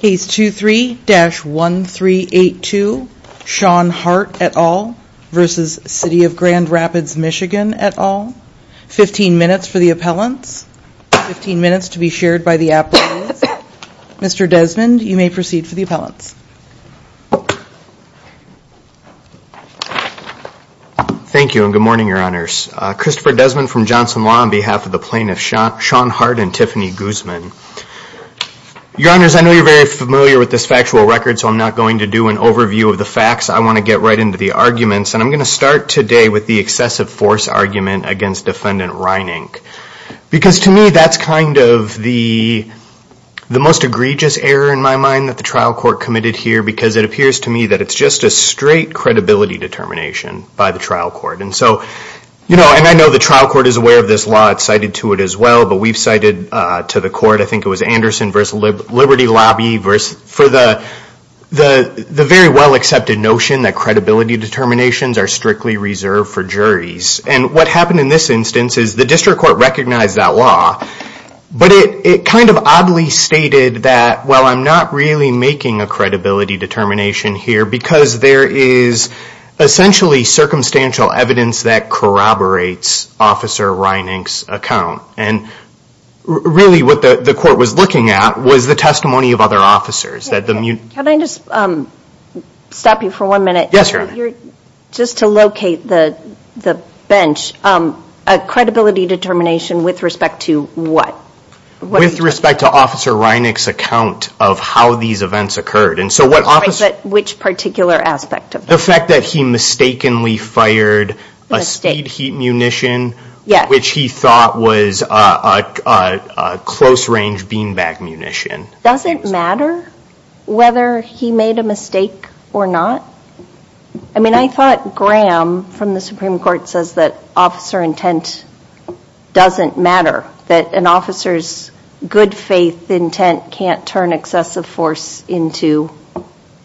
Case 23-1382, Shawn Hart et al. v. City of Grand Rapids MI et al. 15 minutes for the appellants. 15 minutes to be shared by the applicants. Mr. Desmond, you may proceed for the appellants. Thank you and good morning, Your Honors. Christopher Desmond from Johnson Law on behalf of the plaintiffs, Shawn Hart and Tiffany Guzman. Your Honors, I know you're very familiar with this factual record, so I'm not going to do an overview of the facts. I want to get right into the arguments. And I'm going to start today with the excessive force argument against Defendant Reinink. Because to me, that's kind of the most egregious error in my mind that the trial court committed here because it appears to me that it's just a straight credibility determination by the trial court. And so, you know, and I know the trial court is aware of this law. It's cited to it as well. But we've cited to the court, I think it was Anderson v. Liberty Lobby for the very well-accepted notion that credibility determinations are strictly reserved for juries. And what happened in this instance is the district court recognized that law. But it kind of oddly stated that, well, I'm not really making a credibility determination here because there is essentially circumstantial evidence that corroborates Officer Reinink's account. And really what the court was looking at was the testimony of other officers. Can I just stop you for one minute? Yes, Your Honor. Just to locate the bench, a credibility determination with respect to what? With respect to Officer Reinink's account of how these events occurred. Which particular aspect of that? The fact that he mistakenly fired a speed heat munition, which he thought was a close-range beanbag munition. Does it matter whether he made a mistake or not? I mean, I thought Graham from the Supreme Court says that officer intent doesn't matter. That an officer's good faith intent can't turn excessive force into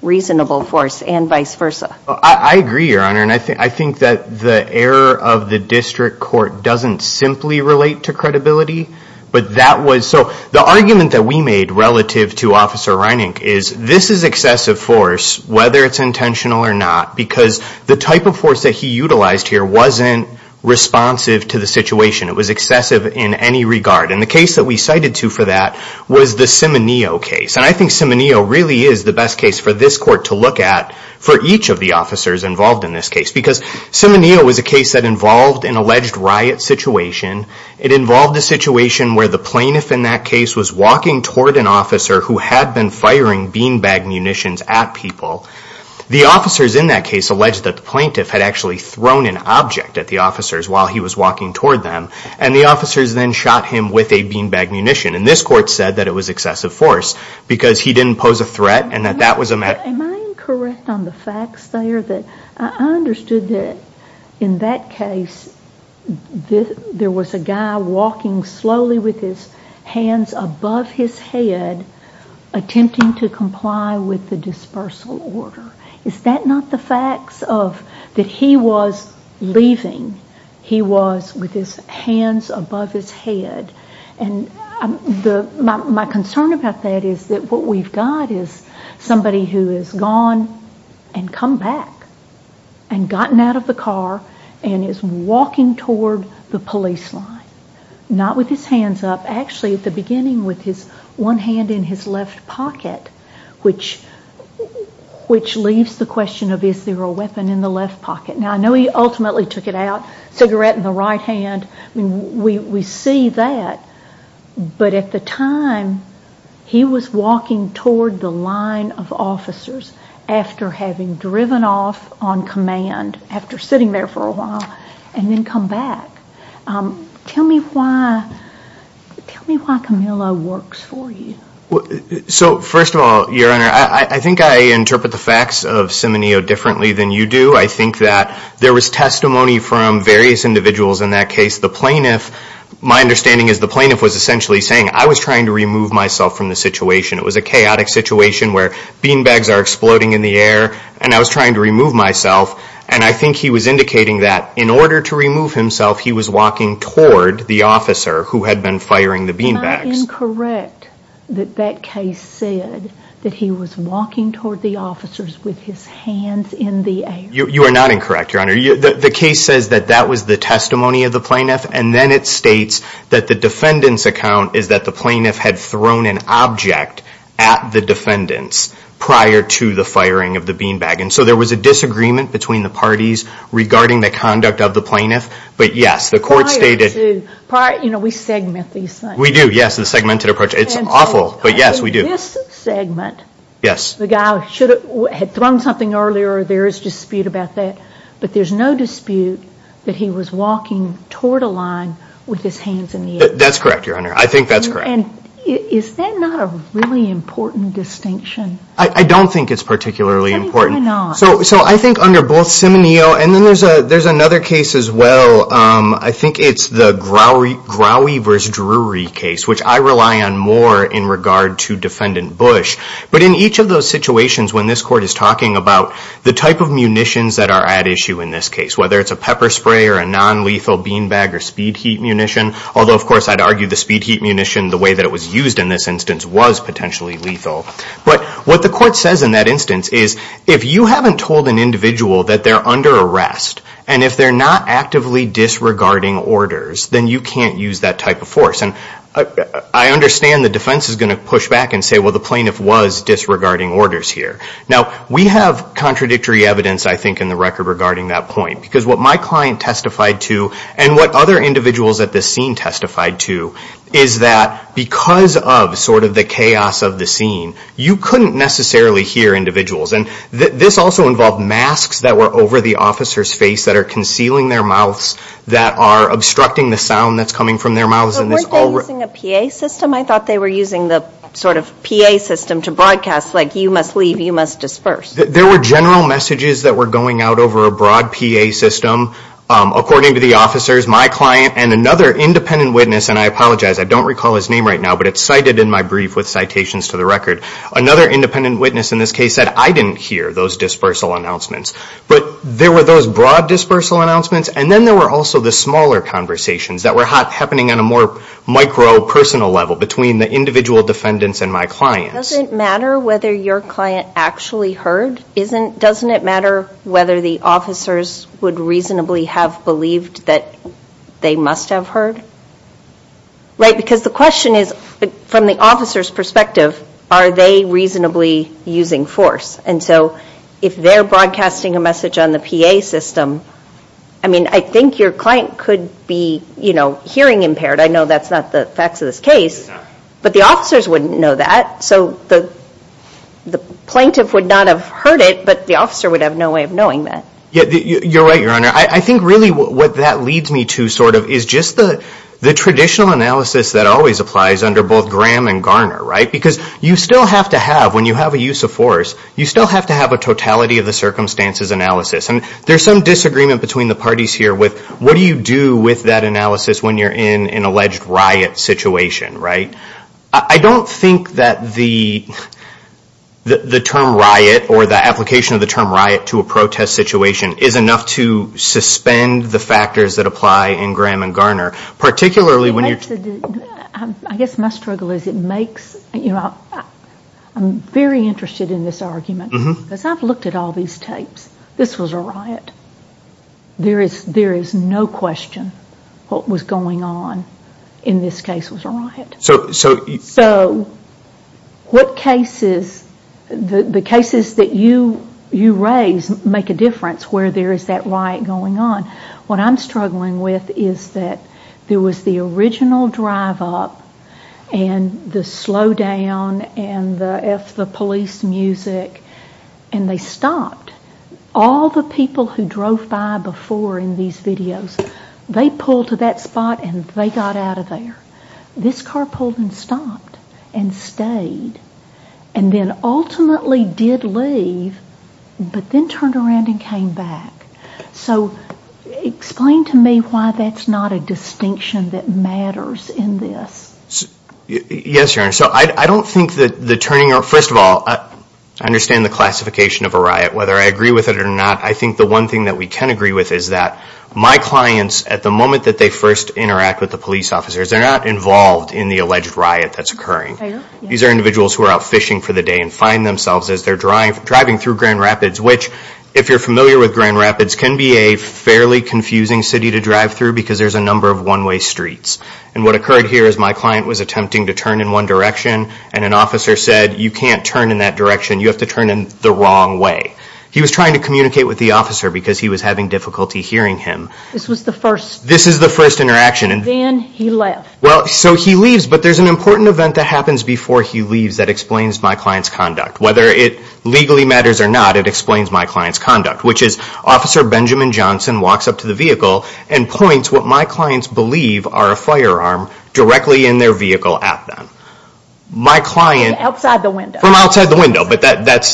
reasonable force and vice versa. I agree, Your Honor. And I think that the error of the district court doesn't simply relate to credibility. But that was, so the argument that we made relative to Officer Reinink is this is excessive force, whether it's intentional or not. Because the type of force that he utilized here wasn't responsive to the situation. It was excessive in any regard. And the case that we cited to for that was the Cimineo case. And I think Cimineo really is the best case for this court to look at for each of the officers involved in this case. Because Cimineo was a case that involved an alleged riot situation. It involved a situation where the plaintiff in that case was walking toward an officer who had been firing beanbag munitions at people. The officers in that case alleged that the plaintiff had actually thrown an object at the officers while he was walking toward them. And the officers then shot him with a beanbag munition. And this court said that it was excessive force. Because he didn't pose a threat and that that was a matter. Am I incorrect on the facts there? I understood that in that case there was a guy walking slowly with his hands above his head, attempting to comply with the dispersal order. Is that not the facts that he was leaving? He was with his hands above his head. My concern about that is that what we've got is somebody who has gone and come back and gotten out of the car and is walking toward the police line. Not with his hands up, actually at the beginning with one hand in his left pocket, which leaves the question of is there a weapon in the left pocket. Now I know he ultimately took it out, cigarette in the right hand. We see that, but at the time he was walking toward the line of officers after having driven off on command, after sitting there for a while, and then come back. Tell me why Camillo works for you. So first of all, Your Honor, I think I interpret the facts of Cimineo differently than you do. I think that there was testimony from various individuals in that case. The plaintiff, my understanding is the plaintiff was essentially saying, I was trying to remove myself from the situation. It was a chaotic situation where beanbags are exploding in the air, and I was trying to remove myself. And I think he was indicating that in order to remove himself, he was walking toward the officer who had been firing the beanbags. Am I incorrect that that case said that he was walking toward the officers with his hands in the air? You are not incorrect, Your Honor. The case says that that was the testimony of the plaintiff, and then it states that the defendant's account is that the plaintiff had thrown an object at the defendants prior to the firing of the beanbag. And so there was a disagreement between the parties regarding the conduct of the plaintiff. Prior to, you know, we segment these things. We do, yes, the segmented approach. It's awful, but yes, we do. In this segment, the guy had thrown something earlier. There is dispute about that. But there's no dispute that he was walking toward a line with his hands in the air. That's correct, Your Honor. I think that's correct. And is that not a really important distinction? I don't think it's particularly important. Why not? So I think under both Simonillo, and then there's another case as well. I think it's the Grawy v. Drury case, which I rely on more in regard to Defendant Bush. But in each of those situations when this court is talking about the type of munitions that are at issue in this case, whether it's a pepper spray or a non-lethal beanbag or speed heat munition, although, of course, I'd argue the speed heat munition, the way that it was used in this instance, was potentially lethal. But what the court says in that instance is if you haven't told an individual that they're under arrest, and if they're not actively disregarding orders, then you can't use that type of force. And I understand the defense is going to push back and say, well, the plaintiff was disregarding orders here. Now, we have contradictory evidence, I think, in the record regarding that point, because what my client testified to and what other individuals at this scene testified to is that because of sort of the chaos of the scene, you couldn't necessarily hear individuals. And this also involved masks that were over the officer's face that are concealing their mouths, that are obstructing the sound that's coming from their mouths. But weren't they using a PA system? I thought they were using the sort of PA system to broadcast, like, you must leave, you must disperse. There were general messages that were going out over a broad PA system, according to the officers. My client and another independent witness, and I apologize, I don't recall his name right now, but it's cited in my brief with citations to the record. Another independent witness in this case said, I didn't hear those dispersal announcements. But there were those broad dispersal announcements, and then there were also the smaller conversations that were happening on a more micro, personal level between the individual defendants and my clients. Doesn't it matter whether your client actually heard? Doesn't it matter whether the officers would reasonably have believed that they must have heard? Right, because the question is, from the officer's perspective, are they reasonably using force? And so if they're broadcasting a message on the PA system, I mean, I think your client could be, you know, hearing impaired. I know that's not the facts of this case, but the officers wouldn't know that. So the plaintiff would not have heard it, but the officer would have no way of knowing that. Yeah, you're right, Your Honor. I think really what that leads me to sort of is just the traditional analysis that always applies under both Graham and Garner, right? Because you still have to have, when you have a use of force, you still have to have a totality of the circumstances analysis. And there's some disagreement between the parties here with what do you do with that analysis when you're in an alleged riot situation, right? I don't think that the term riot or the application of the term riot to a protest situation is enough to suspend the factors that apply in Graham and Garner, particularly when you're... I guess my struggle is it makes, you know, I'm very interested in this argument because I've looked at all these tapes. This was a riot. There is no question what was going on in this case was a riot. So what cases, the cases that you raise make a difference where there is that riot going on. What I'm struggling with is that there was the original drive up and the slow down and the police music and they stopped. All the people who drove by before in these videos, they pulled to that spot and they got out of there. This car pulled and stopped and stayed and then ultimately did leave but then turned around and came back. So explain to me why that's not a distinction that matters in this. Yes, Your Honor. So I don't think that the turning... First of all, I understand the classification of a riot. Whether I agree with it or not, I think the one thing that we can agree with is that my clients at the moment that they first interact with the police officers, they're not involved in the alleged riot that's occurring. These are individuals who are out fishing for the day and find themselves as they're driving through Grand Rapids, which if you're familiar with Grand Rapids, can be a fairly confusing city to drive through because there's a number of one-way streets. And what occurred here is my client was attempting to turn in one direction and an officer said, you can't turn in that direction, you have to turn in the wrong way. He was trying to communicate with the officer because he was having difficulty hearing him. This was the first... This is the first interaction. Then he left. Well, so he leaves, but there's an important event that happens before he leaves that explains my client's conduct. Whether it legally matters or not, it explains my client's conduct, which is Officer Benjamin Johnson walks up to the vehicle and points what my clients believe are a firearm directly in their vehicle at them. My client... From outside the window. From outside the window, but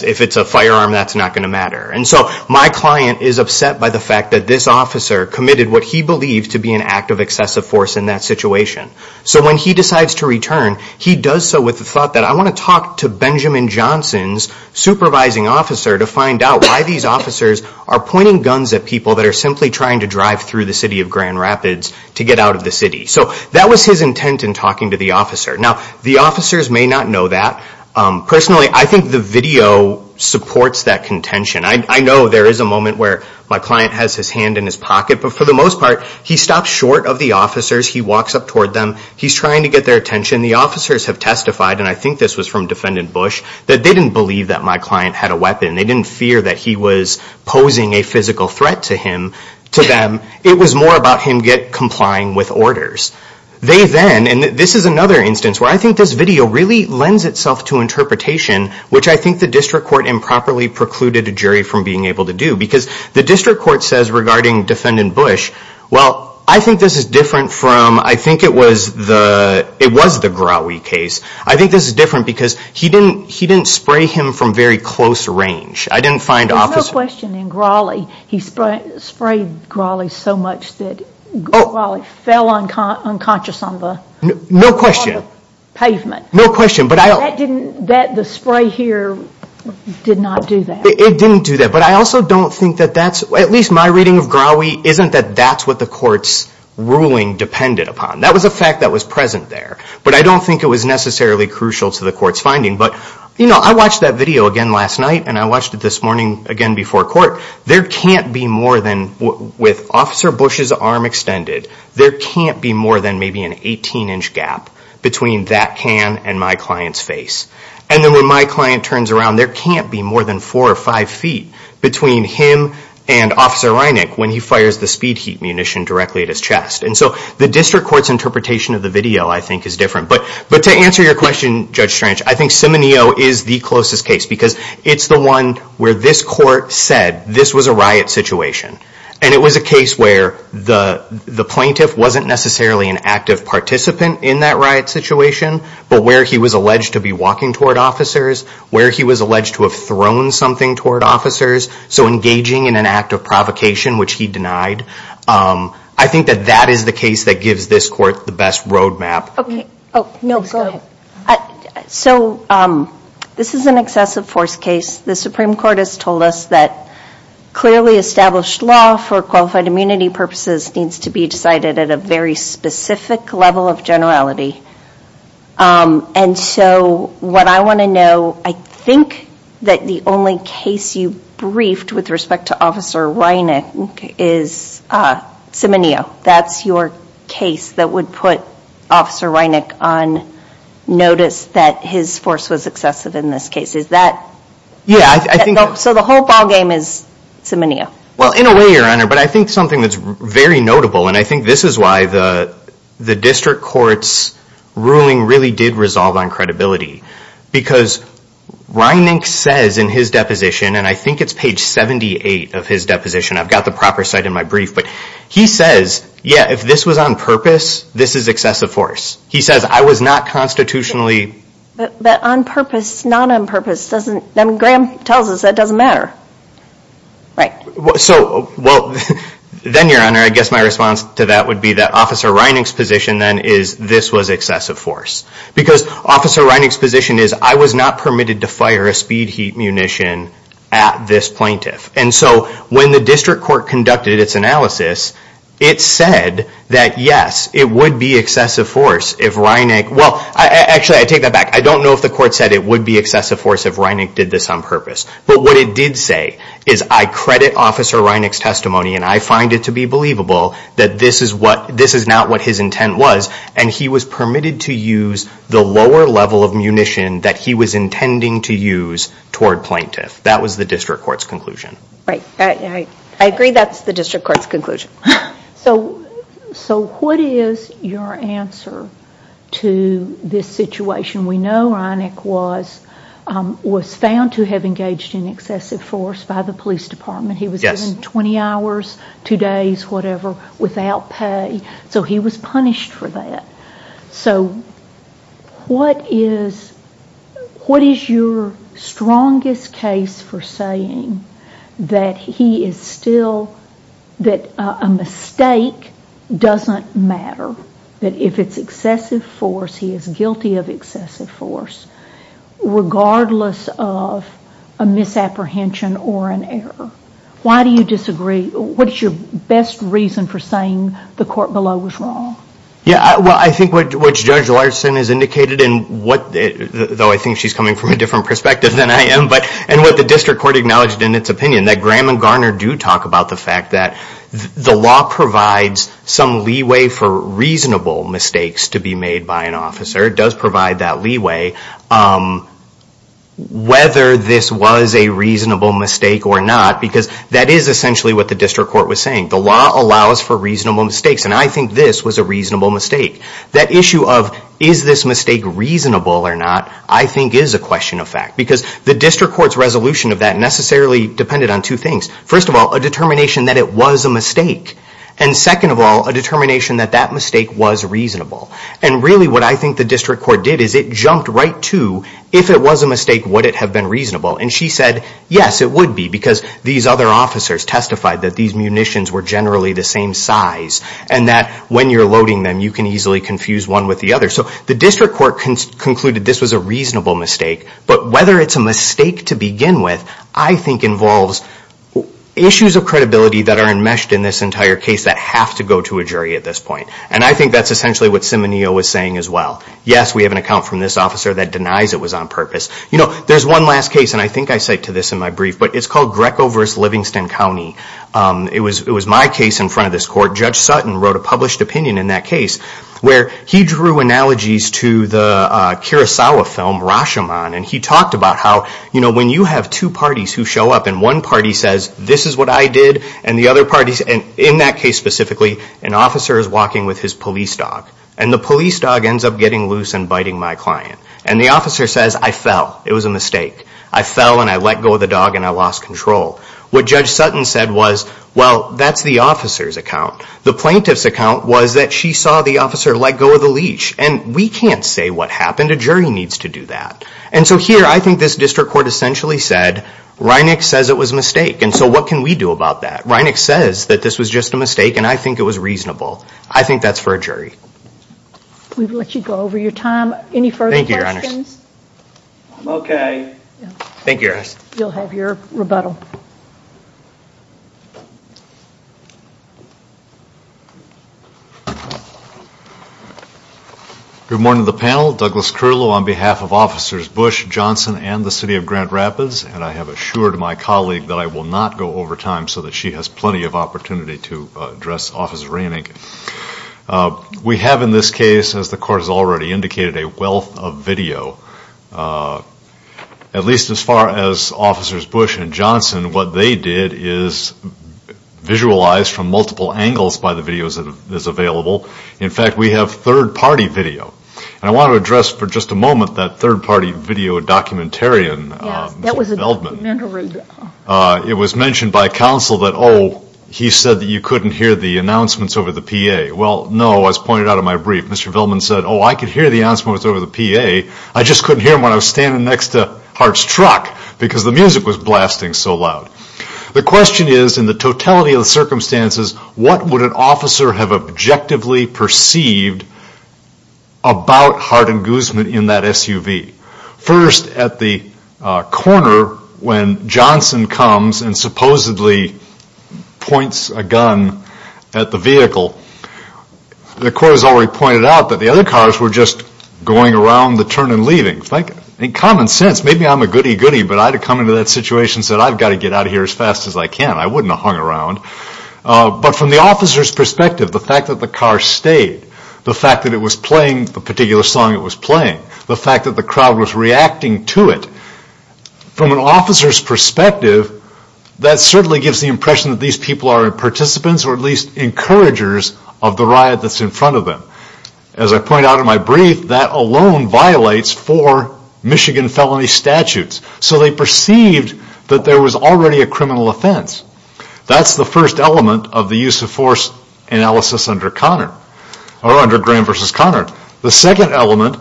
if it's a firearm, that's not going to matter. And so my client is upset by the fact that this officer committed what he believed to be an act of excessive force in that situation. So when he decides to return, he does so with the thought that I want to talk to Benjamin Johnson's supervising officer to find out why these officers are pointing guns at people that are simply trying to drive through the city of Grand Rapids to get out of the city. So that was his intent in talking to the officer. Now, the officers may not know that. Personally, I think the video supports that contention. I know there is a moment where my client has his hand in his pocket, but for the most part, he stops short of the officers. He walks up toward them. He's trying to get their attention. The officers have testified, and I think this was from Defendant Bush, that they didn't believe that my client had a weapon. They didn't fear that he was posing a physical threat to them. It was more about him complying with orders. They then, and this is another instance where I think this video really lends itself to interpretation, which I think the District Court improperly precluded a jury from being able to do, because the District Court says regarding Defendant Bush, well, I think this is different from, I think it was the Grawley case. I think this is different because he didn't spray him from very close range. I didn't find officers... There's no question in Grawley, he sprayed Grawley so much that Grawley fell unconscious on the pavement. No question. The spray here did not do that. It didn't do that. But I also don't think that that's, at least my reading of Grawley, isn't that that's what the court's ruling depended upon. That was a fact that was present there. But I don't think it was necessarily crucial to the court's finding. But I watched that video again last night, and I watched it this morning again before court. There can't be more than, with Officer Bush's arm extended, there can't be more than maybe an 18-inch gap between that can and my client's face. And then when my client turns around, there can't be more than four or five feet between him and Officer Reinick when he fires the speed heat munition directly at his chest. And so the District Court's interpretation of the video, I think, is different. But to answer your question, Judge Strange, I think Simonillo is the closest case because it's the one where this court said this was a riot situation. And it was a case where the plaintiff wasn't necessarily an active participant in that riot situation, but where he was alleged to be walking toward officers, where he was alleged to have thrown something toward officers, so engaging in an act of provocation, which he denied. I think that that is the case that gives this court the best roadmap. Okay. Oh, no, go ahead. So this is an excessive force case. The Supreme Court has told us that clearly established law for qualified immunity purposes needs to be decided at a very specific level of generality. And so what I want to know, I think that the only case you briefed with respect to Officer Reinick is Simonillo. That's your case that would put Officer Reinick on notice that his force was excessive in this case. So the whole ballgame is Simonillo. Well, in a way, Your Honor, but I think something that's very notable, and I think this is why the district court's ruling really did resolve on credibility, because Reinick says in his deposition, and I think it's page 78 of his deposition, I've got the proper site in my brief, but he says, yeah, if this was on purpose, this is excessive force. He says, I was not constitutionally... But on purpose, not on purpose, Graham tells us that doesn't matter. Right. So, well, then, Your Honor, I guess my response to that would be that Officer Reinick's position then is this was excessive force. Because Officer Reinick's position is I was not permitted to fire a speed heat munition at this plaintiff. And so when the district court conducted its analysis, it said that, yes, it would be excessive force if Reinick... Well, actually, I take that back. I don't know if the court said it would be excessive force if Reinick did this on purpose. But what it did say is I credit Officer Reinick's testimony, and I find it to be believable that this is not what his intent was, and he was permitted to use the lower level of munition that he was intending to use toward plaintiff. That was the district court's conclusion. Right. I agree that's the district court's conclusion. So what is your answer to this situation? We know Reinick was found to have engaged in excessive force by the police department. He was given 20 hours, two days, whatever, without pay. So he was punished for that. So what is your strongest case for saying that a mistake doesn't matter, that if it's excessive force, he is guilty of excessive force, regardless of a misapprehension or an error? Why do you disagree? What is your best reason for saying the court below was wrong? Yeah, well, I think what Judge Larson has indicated, though I think she's coming from a different perspective than I am, and what the district court acknowledged in its opinion, that Graham and Garner do talk about the fact that the law provides some leeway for reasonable mistakes to be made by an officer. It does provide that leeway, whether this was a reasonable mistake or not, because that is essentially what the district court was saying. The law allows for reasonable mistakes, and I think this was a reasonable mistake. That issue of, is this mistake reasonable or not, I think is a question of fact, because the district court's resolution of that necessarily depended on two things. First of all, a determination that it was a mistake. And second of all, a determination that that mistake was reasonable. And really what I think the district court did is it jumped right to, if it was a mistake, would it have been reasonable? And she said, yes, it would be, because these other officers testified that these munitions were generally the same size and that when you're loading them, you can easily confuse one with the other. So the district court concluded this was a reasonable mistake, but whether it's a mistake to begin with, I think involves issues of credibility that are enmeshed in this entire case that have to go to a jury at this point. And I think that's essentially what Simonillo was saying as well. Yes, we have an account from this officer that denies it was on purpose. You know, there's one last case, and I think I cite to this in my brief, but it's called Greco v. Livingston County. It was my case in front of this court. Judge Sutton wrote a published opinion in that case where he drew analogies to the Kurosawa film Rashomon, and he talked about how, you know, when you have two parties who show up and one party says, this is what I did, and the other party, and in that case specifically, an officer is walking with his police dog. And the police dog ends up getting loose and biting my client. And the officer says, I fell. It was a mistake. I fell, and I let go of the dog, and I lost control. What Judge Sutton said was, well, that's the officer's account. The plaintiff's account was that she saw the officer let go of the leash. And we can't say what happened. A jury needs to do that. And so here, I think this district court essentially said, Reineck says it was a mistake. And so what can we do about that? Reineck says that this was just a mistake, and I think it was reasonable. I think that's for a jury. We've let you go over your time. Any further questions? I'm okay. Thank you, Your Honor. You'll have your rebuttal. Good morning to the panel. Douglas Curlow on behalf of Officers Bush, Johnson, and the City of Grand Rapids, and I have assured my colleague that I will not go over time so that she has plenty of opportunity to address Officer Reineck. We have in this case, as the court has already indicated, a wealth of video. At least as far as Officers Bush and Johnson, what they did is visualize from multiple angles by the videos that is available. In fact, we have third-party video. And I want to address for just a moment that third-party video documentarian. Yes, that was a documentary. It was mentioned by counsel that, oh, he said that you couldn't hear the announcements over the PA. Well, no. As pointed out in my brief, Mr. Villman said, oh, I could hear the announcements over the PA. I just couldn't hear them when I was standing next to Hart's truck because the music was blasting so loud. The question is, in the totality of the circumstances, what would an officer have objectively perceived about Hart and Guzman in that SUV? First, at the corner, when Johnson comes and supposedly points a gun at the vehicle, the court has already pointed out that the other cars were just going around the turn and leaving. In common sense, maybe I'm a goody-goody, but I'd have come into that situation and said, I've got to get out of here as fast as I can. I wouldn't have hung around. But from the officer's perspective, the fact that the car stayed, the fact that it was playing the particular song it was playing, the fact that the crowd was reacting to it, from an officer's perspective, that certainly gives the impression that these people are participants or at least encouragers of the riot that's in front of them. As I point out in my brief, that alone violates four Michigan felony statutes. So they perceived that there was already a criminal offense. That's the first element of the use of force analysis under Conner, or under Graham versus Conner. The second element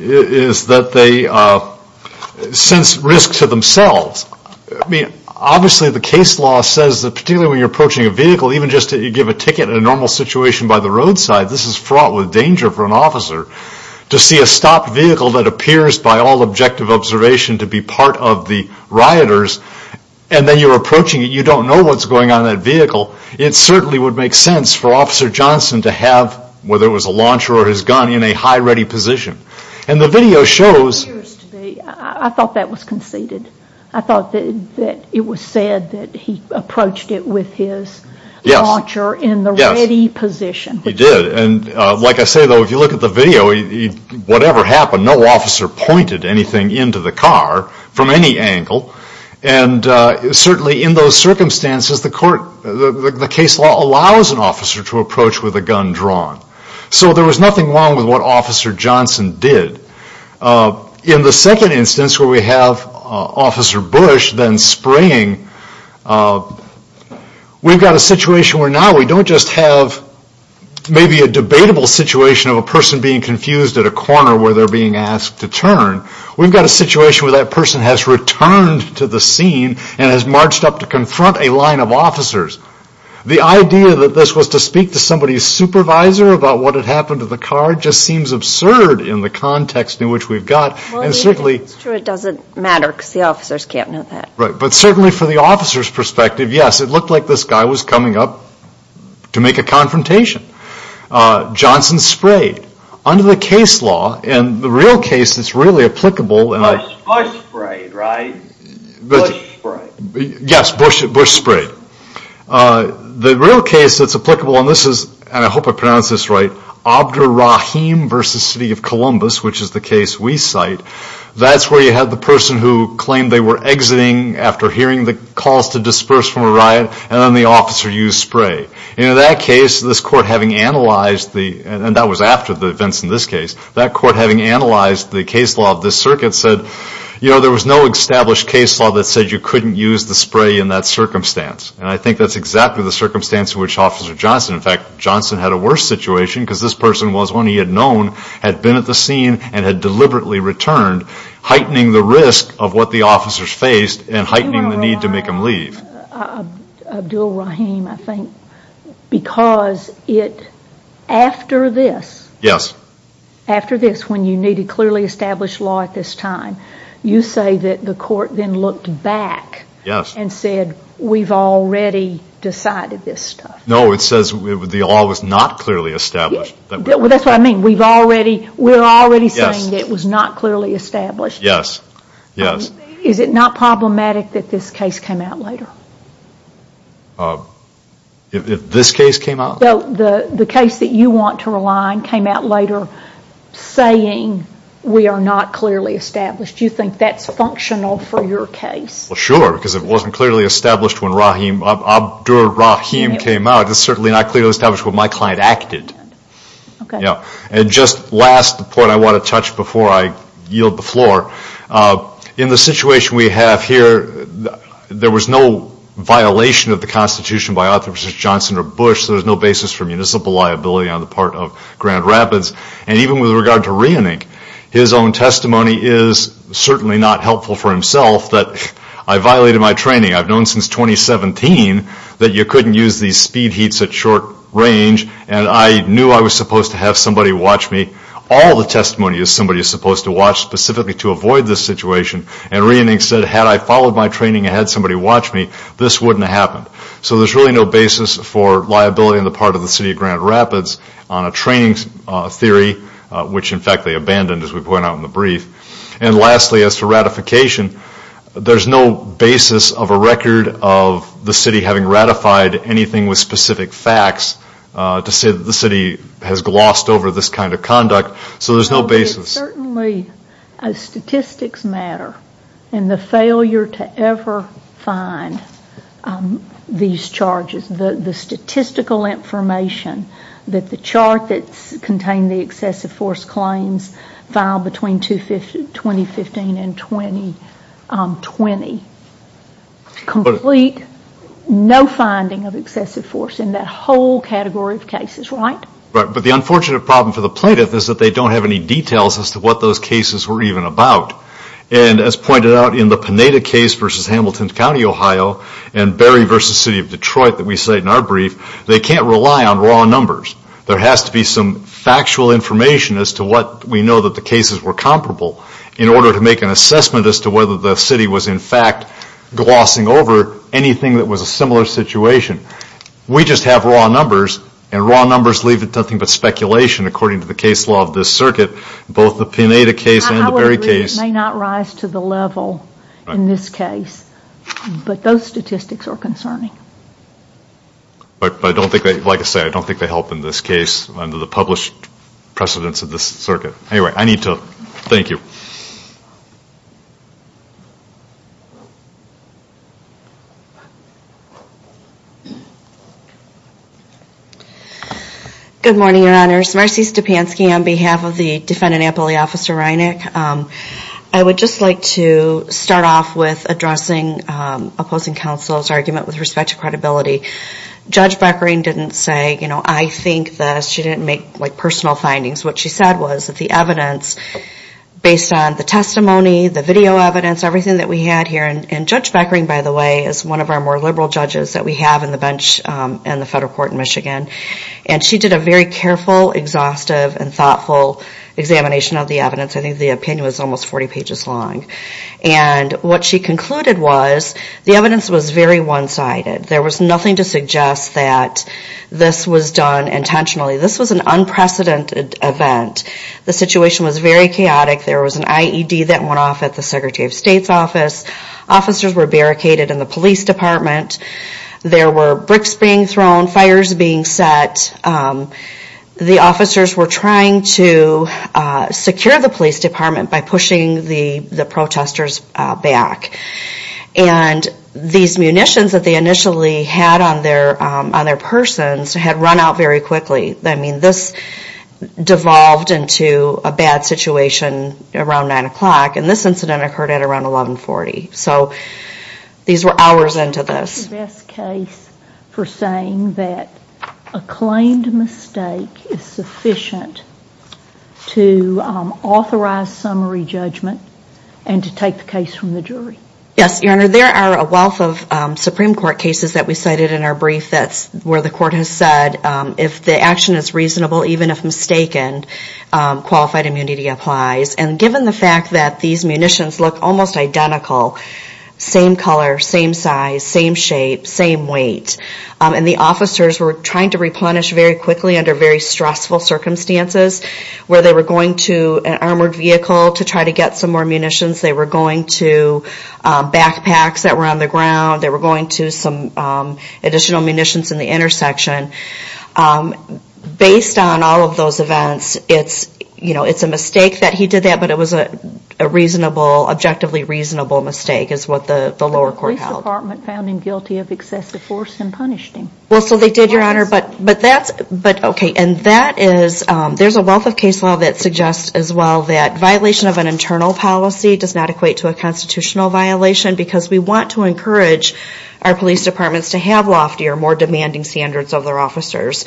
is that they sense risk to themselves. I mean, obviously the case law says that particularly when you're approaching a vehicle, even just to give a ticket in a normal situation by the roadside, this is fraught with danger for an officer. To see a stopped vehicle that appears by all objective observation to be part of the rioters, and then you're approaching it, you don't know what's going on in that vehicle, it certainly would make sense for Officer Johnson to have, whether it was a launcher or his gun, in a high ready position. And the video shows... I thought that was conceded. I thought that it was said that he approached it with his launcher in the ready position. He did. And like I say, though, if you look at the video, whatever happened, no officer pointed anything into the car from any angle. And certainly in those circumstances, the case law allows an officer to approach with a gun drawn. So there was nothing wrong with what Officer Johnson did. In the second instance where we have Officer Bush then spraying, we've got a situation where now we don't just have maybe a debatable situation of a person being confused at a corner where they're being asked to turn. We've got a situation where that person has returned to the scene and has marched up to confront a line of officers. The idea that this was to speak to somebody's supervisor about what had happened to the car just seems absurd in the context in which we've got. Well, it's true it doesn't matter because the officers can't know that. Right. But certainly for the officer's perspective, yes, it looked like this guy was coming up to make a confrontation. Johnson sprayed. Under the case law, and the real case that's really applicable... Bush sprayed, right? Bush sprayed. Yes, Bush sprayed. The real case that's applicable, and I hope I pronounce this right, Abderrahim v. City of Columbus, which is the case we cite, that's where you have the person who claimed they were exiting after hearing the calls to disperse from a riot, and then the officer used spray. In that case, this court having analyzed the, and that was after the events in this case, that court having analyzed the case law of this circuit said, you know, there was no established case law that said you couldn't use the spray in that circumstance. And I think that's exactly the circumstance in which Officer Johnson, in fact, Johnson had a worse situation because this person was one he had known, had been at the scene, and had deliberately returned, heightening the risk of what the officers faced and heightening the need to make them leave. Abderrahim, I think, because it, after this... Yes. After this, when you need a clearly established law at this time, you say that the court then looked back... ...and said, we've already decided this stuff. No, it says the law was not clearly established. Well, that's what I mean. We've already, we're already saying that it was not clearly established. Yes, yes. Is it not problematic that this case came out later? If this case came out? So the case that you want to rely on came out later saying we are not clearly established. Do you think that's functional for your case? Well, sure, because it wasn't clearly established when Abderrahim came out. It's certainly not clearly established when my client acted. Okay. And just last, the point I want to touch before I yield the floor, in the situation we have here, there was no violation of the Constitution by Officer Johnson or Bush. There's no basis for municipal liability on the part of Grand Rapids. And even with regard to Reinink, his own testimony is certainly not helpful for himself, that I violated my training. I've known since 2017 that you couldn't use these speed heats at short range, and I knew I was supposed to have somebody watch me. All the testimony is somebody is supposed to watch specifically to avoid this situation. And Reinink said, had I followed my training and had somebody watch me, this wouldn't have happened. So there's really no basis for liability on the part of the city of Grand Rapids on a training theory, which in fact they abandoned, as we point out in the brief. And lastly, as to ratification, there's no basis of a record of the city having ratified anything with specific facts to say that the city has glossed over this kind of conduct. So there's no basis. Certainly, as statistics matter, and the failure to ever find these charges, the statistical information that the chart that contained the excessive force claims filed between 2015 and 2020, complete no finding of excessive force in that whole category of cases, right? But the unfortunate problem for the plaintiff is that they don't have any details as to what those cases were even about. And as pointed out in the Pineda case versus Hamilton County, Ohio, and Berry versus City of Detroit that we cite in our brief, they can't rely on raw numbers. There has to be some factual information as to what we know that the cases were comparable in order to make an assessment as to whether the city was, in fact, glossing over anything that was a similar situation. We just have raw numbers, and raw numbers leave it to nothing but speculation, according to the case law of this circuit, both the Pineda case and the Berry case. I would agree that it may not rise to the level in this case, but those statistics are concerning. But I don't think that, like I said, I don't think they help in this case under the published precedence of this circuit. Anyway, I need to thank you. Good morning, Your Honors. Marcy Stepanski on behalf of the defendant, Appellate Officer Reinick. I would just like to start off with addressing opposing counsel's argument with respect to credibility. Judge Beckering didn't say, you know, I think that she didn't make, like, personal findings. What she said was that the evidence, based on the testimony, the video evidence, everything that we had here, and Judge Beckering, by the way, is one of our more liberal judges that we have in the bench in the federal court in Michigan, and she did a very careful, exhaustive, and thoughtful examination of the evidence. I think the opinion was almost 40 pages long. And what she concluded was the evidence was very one-sided. There was nothing to suggest that this was done intentionally. This was an unprecedented event. The situation was very chaotic. There was an IED that went off at the Secretary of State's office. Officers were barricaded in the police department. There were bricks being thrown, fires being set. The officers were trying to secure the police department by pushing the protesters back. And these munitions that they initially had on their persons had run out very quickly. I mean, this devolved into a bad situation around 9 o'clock, and this incident occurred at around 1140. So these were hours into this. Is this the best case for saying that a claimed mistake is sufficient to authorize summary judgment and to take the case from the jury? Yes, Your Honor. There are a wealth of Supreme Court cases that we cited in our brief. That's where the court has said if the action is reasonable, even if mistaken, qualified immunity applies. And given the fact that these munitions look almost identical, same color, same size, same shape, same weight, and the officers were trying to replenish very quickly under very stressful circumstances, where they were going to an armored vehicle to try to get some more munitions. They were going to backpacks that were on the ground. They were going to some additional munitions in the intersection. Based on all of those events, it's a mistake that he did that, but it was a reasonably, objectively reasonable mistake is what the lower court held. The police department found him guilty of excessive force and punished him. Well, so they did, Your Honor, but that's... But, okay, and that is... There's a wealth of case law that suggests as well that violation of an internal policy does not equate to a constitutional violation because we want to encourage our police departments to have loftier, more demanding standards of their officers.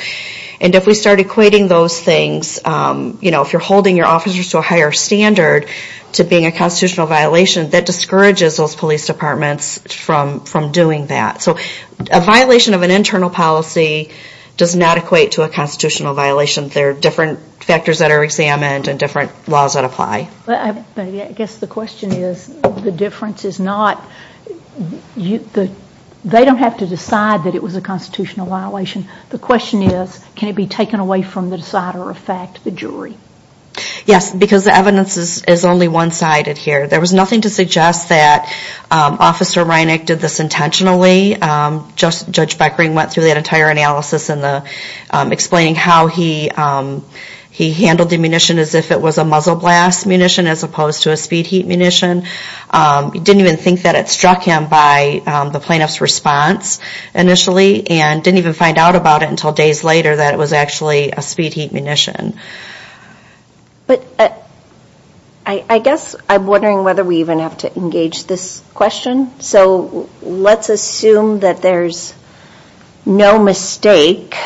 And if we start equating those things, you know, if you're holding your officers to a higher standard to being a constitutional violation, that discourages those police departments from doing that. So a violation of an internal policy does not equate to a constitutional violation. There are different factors that are examined and different laws that apply. Okay, but I guess the question is, the difference is not... They don't have to decide that it was a constitutional violation. The question is, can it be taken away from the decider of fact, the jury? Yes, because the evidence is only one-sided here. There was nothing to suggest that Officer Reinick did this intentionally. Judge Beckering went through that entire analysis explaining how he handled the munition as if it was a muzzle blast munition as opposed to a speed heat munition. He didn't even think that it struck him by the plaintiff's response initially and didn't even find out about it until days later that it was actually a speed heat munition. But I guess I'm wondering whether we even have to engage this question. So let's assume that there's no mistake.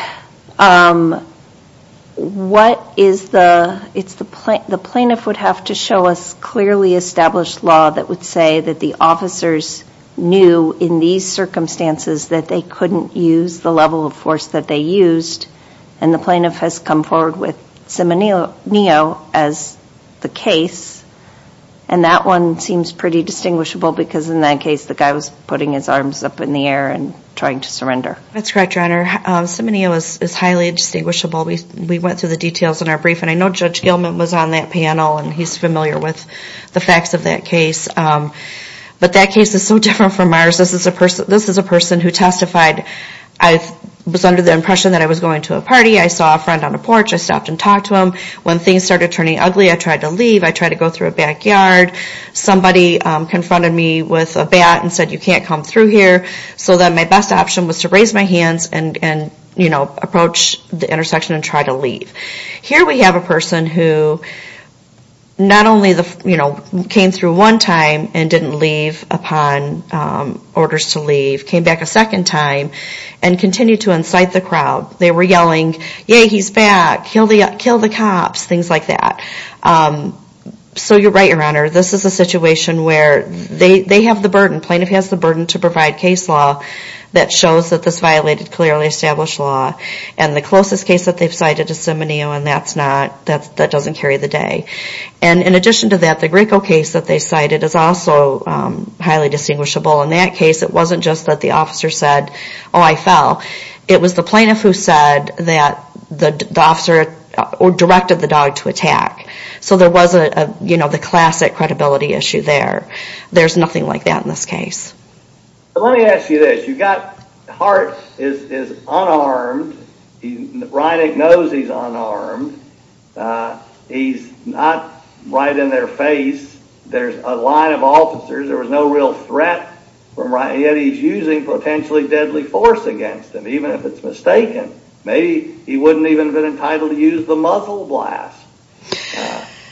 It's the plaintiff would have to show us clearly established law that would say that the officers knew in these circumstances that they couldn't use the level of force that they used and the plaintiff has come forward with semi-neo as the case. And that one seems pretty distinguishable because in that case the guy was putting his arms up in the air and trying to surrender. That's correct, Your Honor. Semi-neo is highly distinguishable. We went through the details in our brief and I know Judge Gilman was on that panel and he's familiar with the facts of that case. But that case is so different from ours. This is a person who testified, I was under the impression that I was going to a party, I saw a friend on a porch, I stopped and talked to him. When things started turning ugly I tried to leave, I tried to go through a backyard. Somebody confronted me with a bat and said, you can't come through here. So then my best option was to raise my hands and approach the intersection and try to leave. Here we have a person who not only came through one time and didn't leave upon orders to leave, came back a second time and continued to incite the crowd. They were yelling, yay he's back, kill the cops, things like that. So you're right, Your Honor. This is a situation where they have the burden, plaintiff has the burden to provide case law that shows that this violated clearly established law. And the closest case that they've cited is semi-neo and that doesn't carry the day. In addition to that, the Graco case that they cited is also highly distinguishable. In that case it wasn't just that the officer said, oh I fell. It was the plaintiff who said that the officer directed the dog to attack. So there was the classic credibility issue there. There's nothing like that in this case. Let me ask you this. Hart is unarmed. Reinick knows he's unarmed. He's not right in their face. There's a line of officers. There was no real threat from Reinick. Yet he's using potentially deadly force against him, even if it's mistaken. Maybe he wouldn't even have been entitled to use the muscle blast.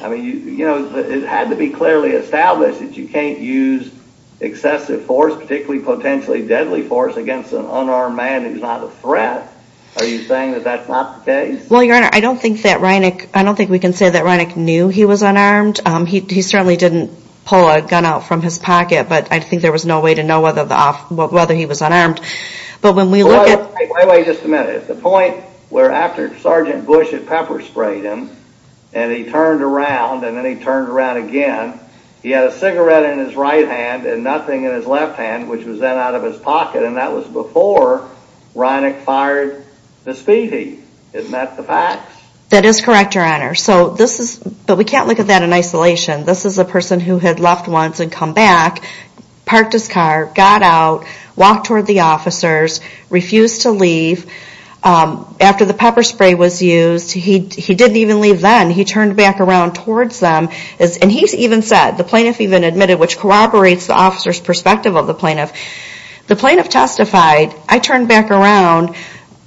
It had to be clearly established that you can't use excessive force, particularly potentially deadly force against an unarmed man who's not a threat. Are you saying that that's not the case? Well, Your Honor, I don't think that Reinick, I don't think we can say that Reinick knew he was unarmed. He certainly didn't pull a gun out from his pocket, but I think there was no way to know whether he was unarmed. But when we look at... Wait, wait, just a minute. The point where after Sergeant Bush at Pepper sprayed him and he turned around and then he turned around again, he had a cigarette in his right hand and nothing in his left hand, which was then out of his pocket, and that was before Reinick fired the speed heat. Isn't that the fact? That is correct, Your Honor. But we can't look at that in isolation. This is a person who had left once and come back, parked his car, got out, walked toward the officers, refused to leave. After the pepper spray was used, he didn't even leave then. He turned back around towards them. And he even said, the plaintiff even admitted, which corroborates the officer's perspective of the plaintiff, the plaintiff testified, I turned back around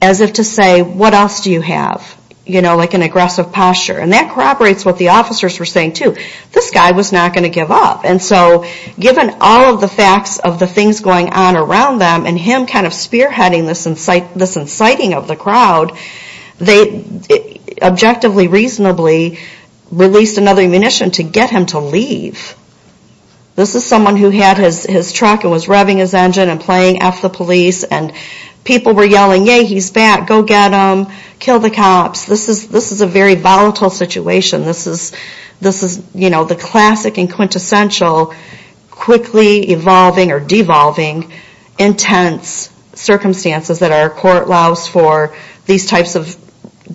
as if to say, what else do you have? You know, like an aggressive posture. And that corroborates what the officers were saying too. This guy was not going to give up. And so given all of the facts of the things going on around them and him kind of spearheading this inciting of the crowd, they objectively, reasonably, released another ammunition to get him to leave. This is someone who had his truck and was revving his engine and playing F the police, and people were yelling, yay, he's back, go get him, kill the cops. This is a very volatile situation. This is, you know, the classic and quintessential quickly evolving or devolving intense circumstances that our court allows for these types of,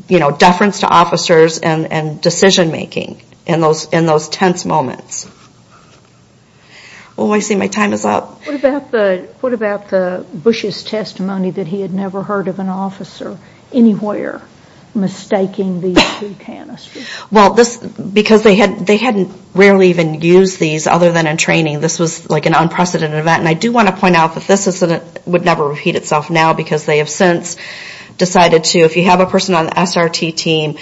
you know, deference to officers and decision making in those tense moments. Oh, I see my time is up. What about Bush's testimony that he had never heard of an officer anywhere? Mistaking these two canisters. Well, because they hadn't rarely even used these other than in training, this was like an unprecedented event. And I do want to point out that this incident would never repeat itself now because they have since decided to, if you have a person on the SRT team,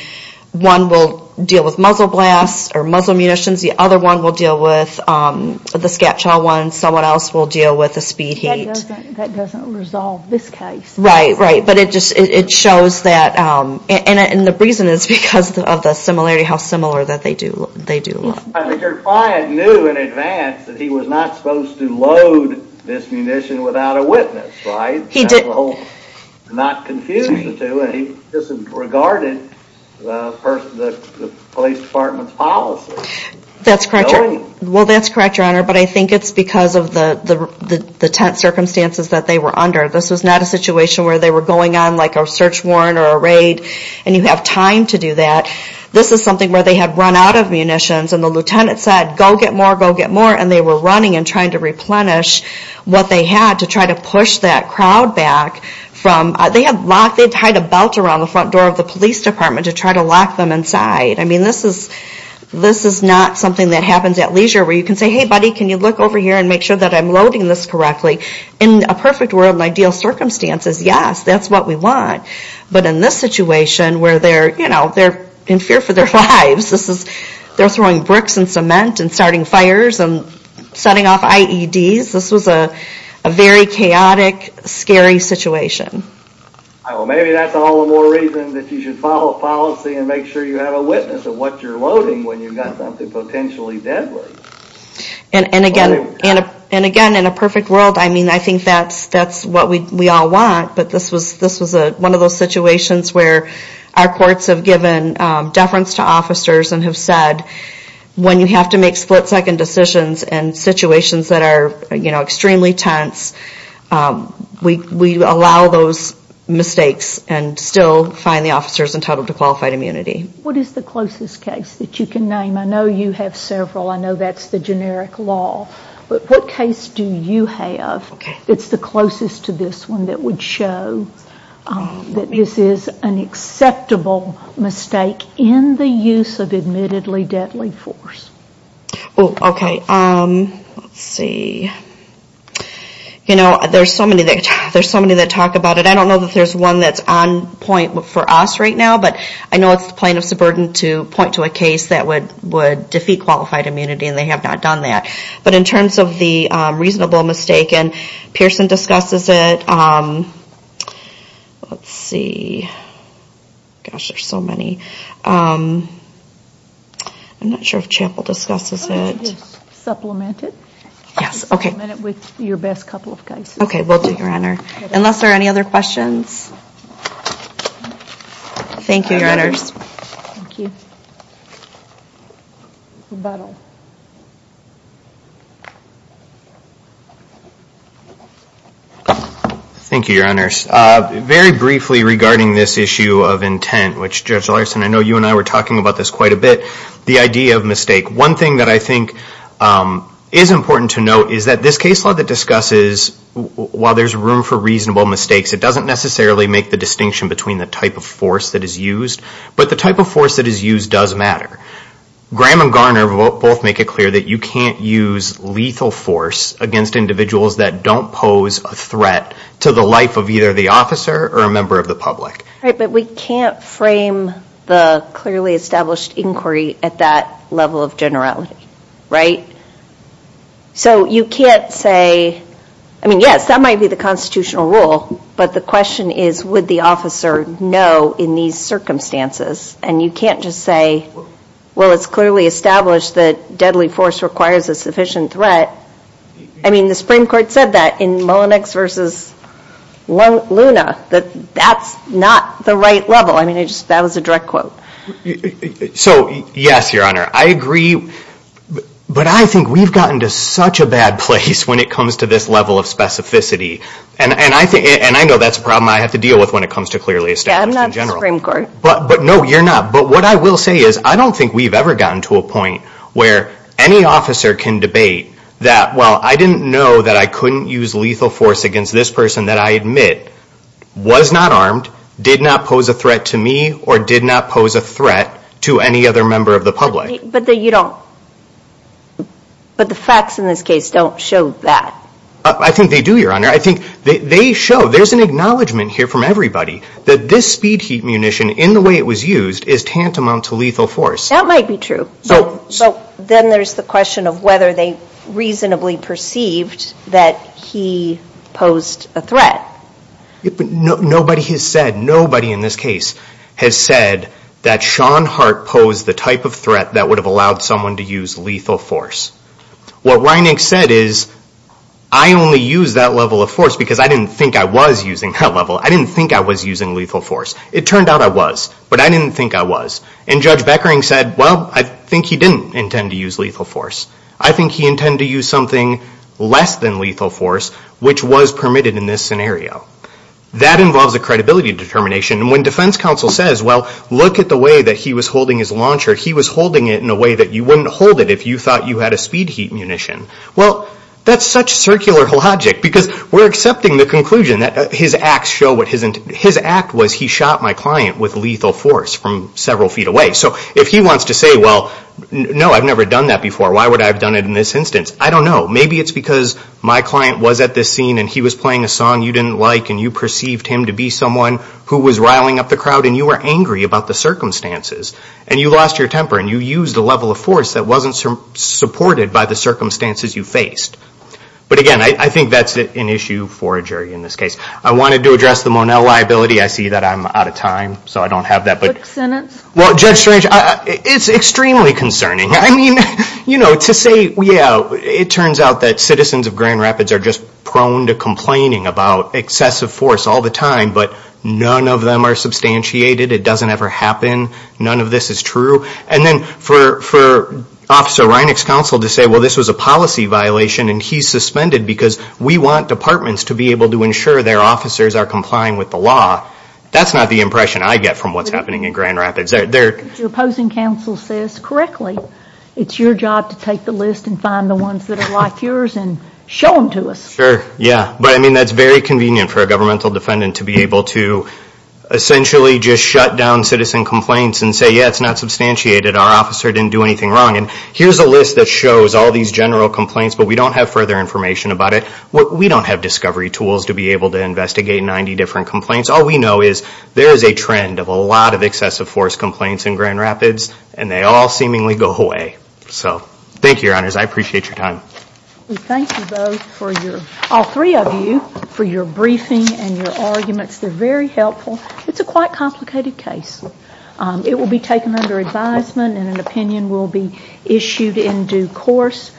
one will deal with muzzle blasts or muzzle munitions, the other one will deal with the scatchaw one, someone else will deal with the speed heat. That doesn't resolve this case. Right, right, but it just shows that, and the reason is because of the similarity, how similar that they do look. Richard Pryor knew in advance that he was not supposed to load this munition without a witness, right? He did. Not confused the two, and he disregarded the police department's policy. That's correct, Your Honor, but I think it's because of the tense circumstances that they were under. This was not a situation where they were going on like a search warrant or a raid, and you have time to do that. This is something where they had run out of munitions, and the lieutenant said, go get more, go get more, and they were running and trying to replenish what they had to try to push that crowd back. They had tied a belt around the front door of the police department to try to lock them inside. I mean, this is not something that happens at leisure where you can say, hey, buddy, can you look over here and make sure that I'm loading this correctly? In a perfect world and ideal circumstances, yes, that's what we want, but in this situation where they're in fear for their lives, they're throwing bricks and cement and starting fires and setting off IEDs, this was a very chaotic, scary situation. Maybe that's all the more reason that you should follow policy and make sure you have a witness of what you're loading when you've got something potentially deadly. And again, in a perfect world, I think that's what we all want, but this was one of those situations where our courts have given deference to officers and have said, when you have to make split-second decisions in situations that are extremely tense, we allow those mistakes and still find the officers entitled to qualified immunity. What is the closest case that you can name? I know you have several. I know that's the generic law, but what case do you have that's the closest to this one that would show that this is an acceptable mistake in the use of admittedly deadly force? Oh, okay. Let's see. You know, there's so many that talk about it. I don't know that there's one that's on point for us right now, but I know it's the plaintiff's burden to point to a case that would defeat qualified immunity, and they have not done that. But in terms of the reasonable mistake, and Pearson discusses it. Let's see. Gosh, there's so many. I'm not sure if Chappell discusses it. Supplement it with your best couple of cases. Okay, will do, Your Honor. Unless there are any other questions? Thank you, Your Honors. Thank you, Your Honors. Very briefly regarding this issue of intent, which Judge Larson, I know you and I were talking about this quite a bit, the idea of mistake. One thing that I think is important to note is that this case law that discusses, while there's room for reasonable mistakes, it doesn't necessarily make the distinction between the type of force that is used. But the type of force that is used does matter. Graham and Garner both make it clear that you can't use lethal force against individuals that don't pose a threat to the life of either the officer or a member of the public. Right, but we can't frame the clearly established inquiry at that level of generality, right? So you can't say, I mean, yes, that might be the constitutional rule, but the question is, would the officer know in these circumstances? And you can't just say, well, it's clearly established that deadly force requires a sufficient threat. I mean, the Supreme Court said that in Mullenix versus Luna, that that's not the right level. I mean, that was a direct quote. So yes, Your Honor, I agree. But I think we've gotten to such a bad place when it comes to this level of specificity. And I know that's a problem I have to deal with when it comes to clearly established in general. But no, you're not. But what I will say is I don't think we've ever gotten to a point where any officer can debate that, well, I didn't know that I couldn't use lethal force against this person that I admit was not armed, did not pose a threat to me, or did not pose a threat to any other member of the public. But the facts in this case don't show that. I think they do, Your Honor. I think they show, there's an acknowledgement here from everybody, that this speed heat munition in the way it was used is tantamount to lethal force. That might be true. So then there's the question of whether they reasonably perceived that he posed a threat. Nobody has said, nobody in this case has said that Sean Hart posed the type of threat that would have allowed someone to use lethal force. What Ryan Nix said is, I only used that level of force because I didn't think I was using that level. I didn't think I was using lethal force. It turned out I was, but I didn't think I was. And Judge Beckering said, well, I think he didn't intend to use lethal force. I think he intended to use something less than lethal force, which was permitted in this scenario. That involves a credibility determination. And when defense counsel says, well, look at the way that he was holding his launcher, he was holding it in a way that you wouldn't hold it if you thought you had a speed heat munition. Well, that's such circular logic because we're accepting the conclusion that his act was he shot my client with lethal force from several feet away. So if he wants to say, well, no, I've never done that before. Why would I have done it in this instance? I don't know. Maybe it's because my client was at this scene and he was playing a song you didn't like and you perceived him to be someone who was riling up the crowd and you were angry about the circumstances. And you lost your temper and you used a level of force that wasn't supported by the circumstances you faced. But again, I think that's an issue for a jury in this case. I wanted to address the Monell liability. I see that I'm out of time, so I don't have that. Well, Judge Strange, it's extremely concerning. I mean, you know, to say, yeah, it turns out that citizens of Grand Rapids are just prone to complaining about excessive force all the time, but none of them are substantiated. It doesn't ever happen. None of this is true. And then for Officer Reinick's counsel to say, well, this was a policy violation and he's suspended because we want departments to be able to ensure their officers are complying with the law. That's not the impression I get from what's happening in Grand Rapids. Your opposing counsel says, correctly, it's your job to take the list and find the ones that are like yours and show them to us. Sure, yeah. But I mean, that's very convenient for a governmental defendant to be able to essentially just shut down citizen complaints and say, yeah, it's not substantiated. Our officer didn't do anything wrong. And here's a list that shows all these general complaints, but we don't have further information about it. We don't have discovery tools to be able to investigate 90 different complaints. All we know is there is a trend of a lot of excessive force complaints in Grand Rapids, and they all seemingly go away. So thank you, Your Honors. I appreciate your time. We thank you both, all three of you, for your briefing and your arguments. They're very helpful. It's a quite complicated case. It will be taken under advisement and an opinion will be issued in due course.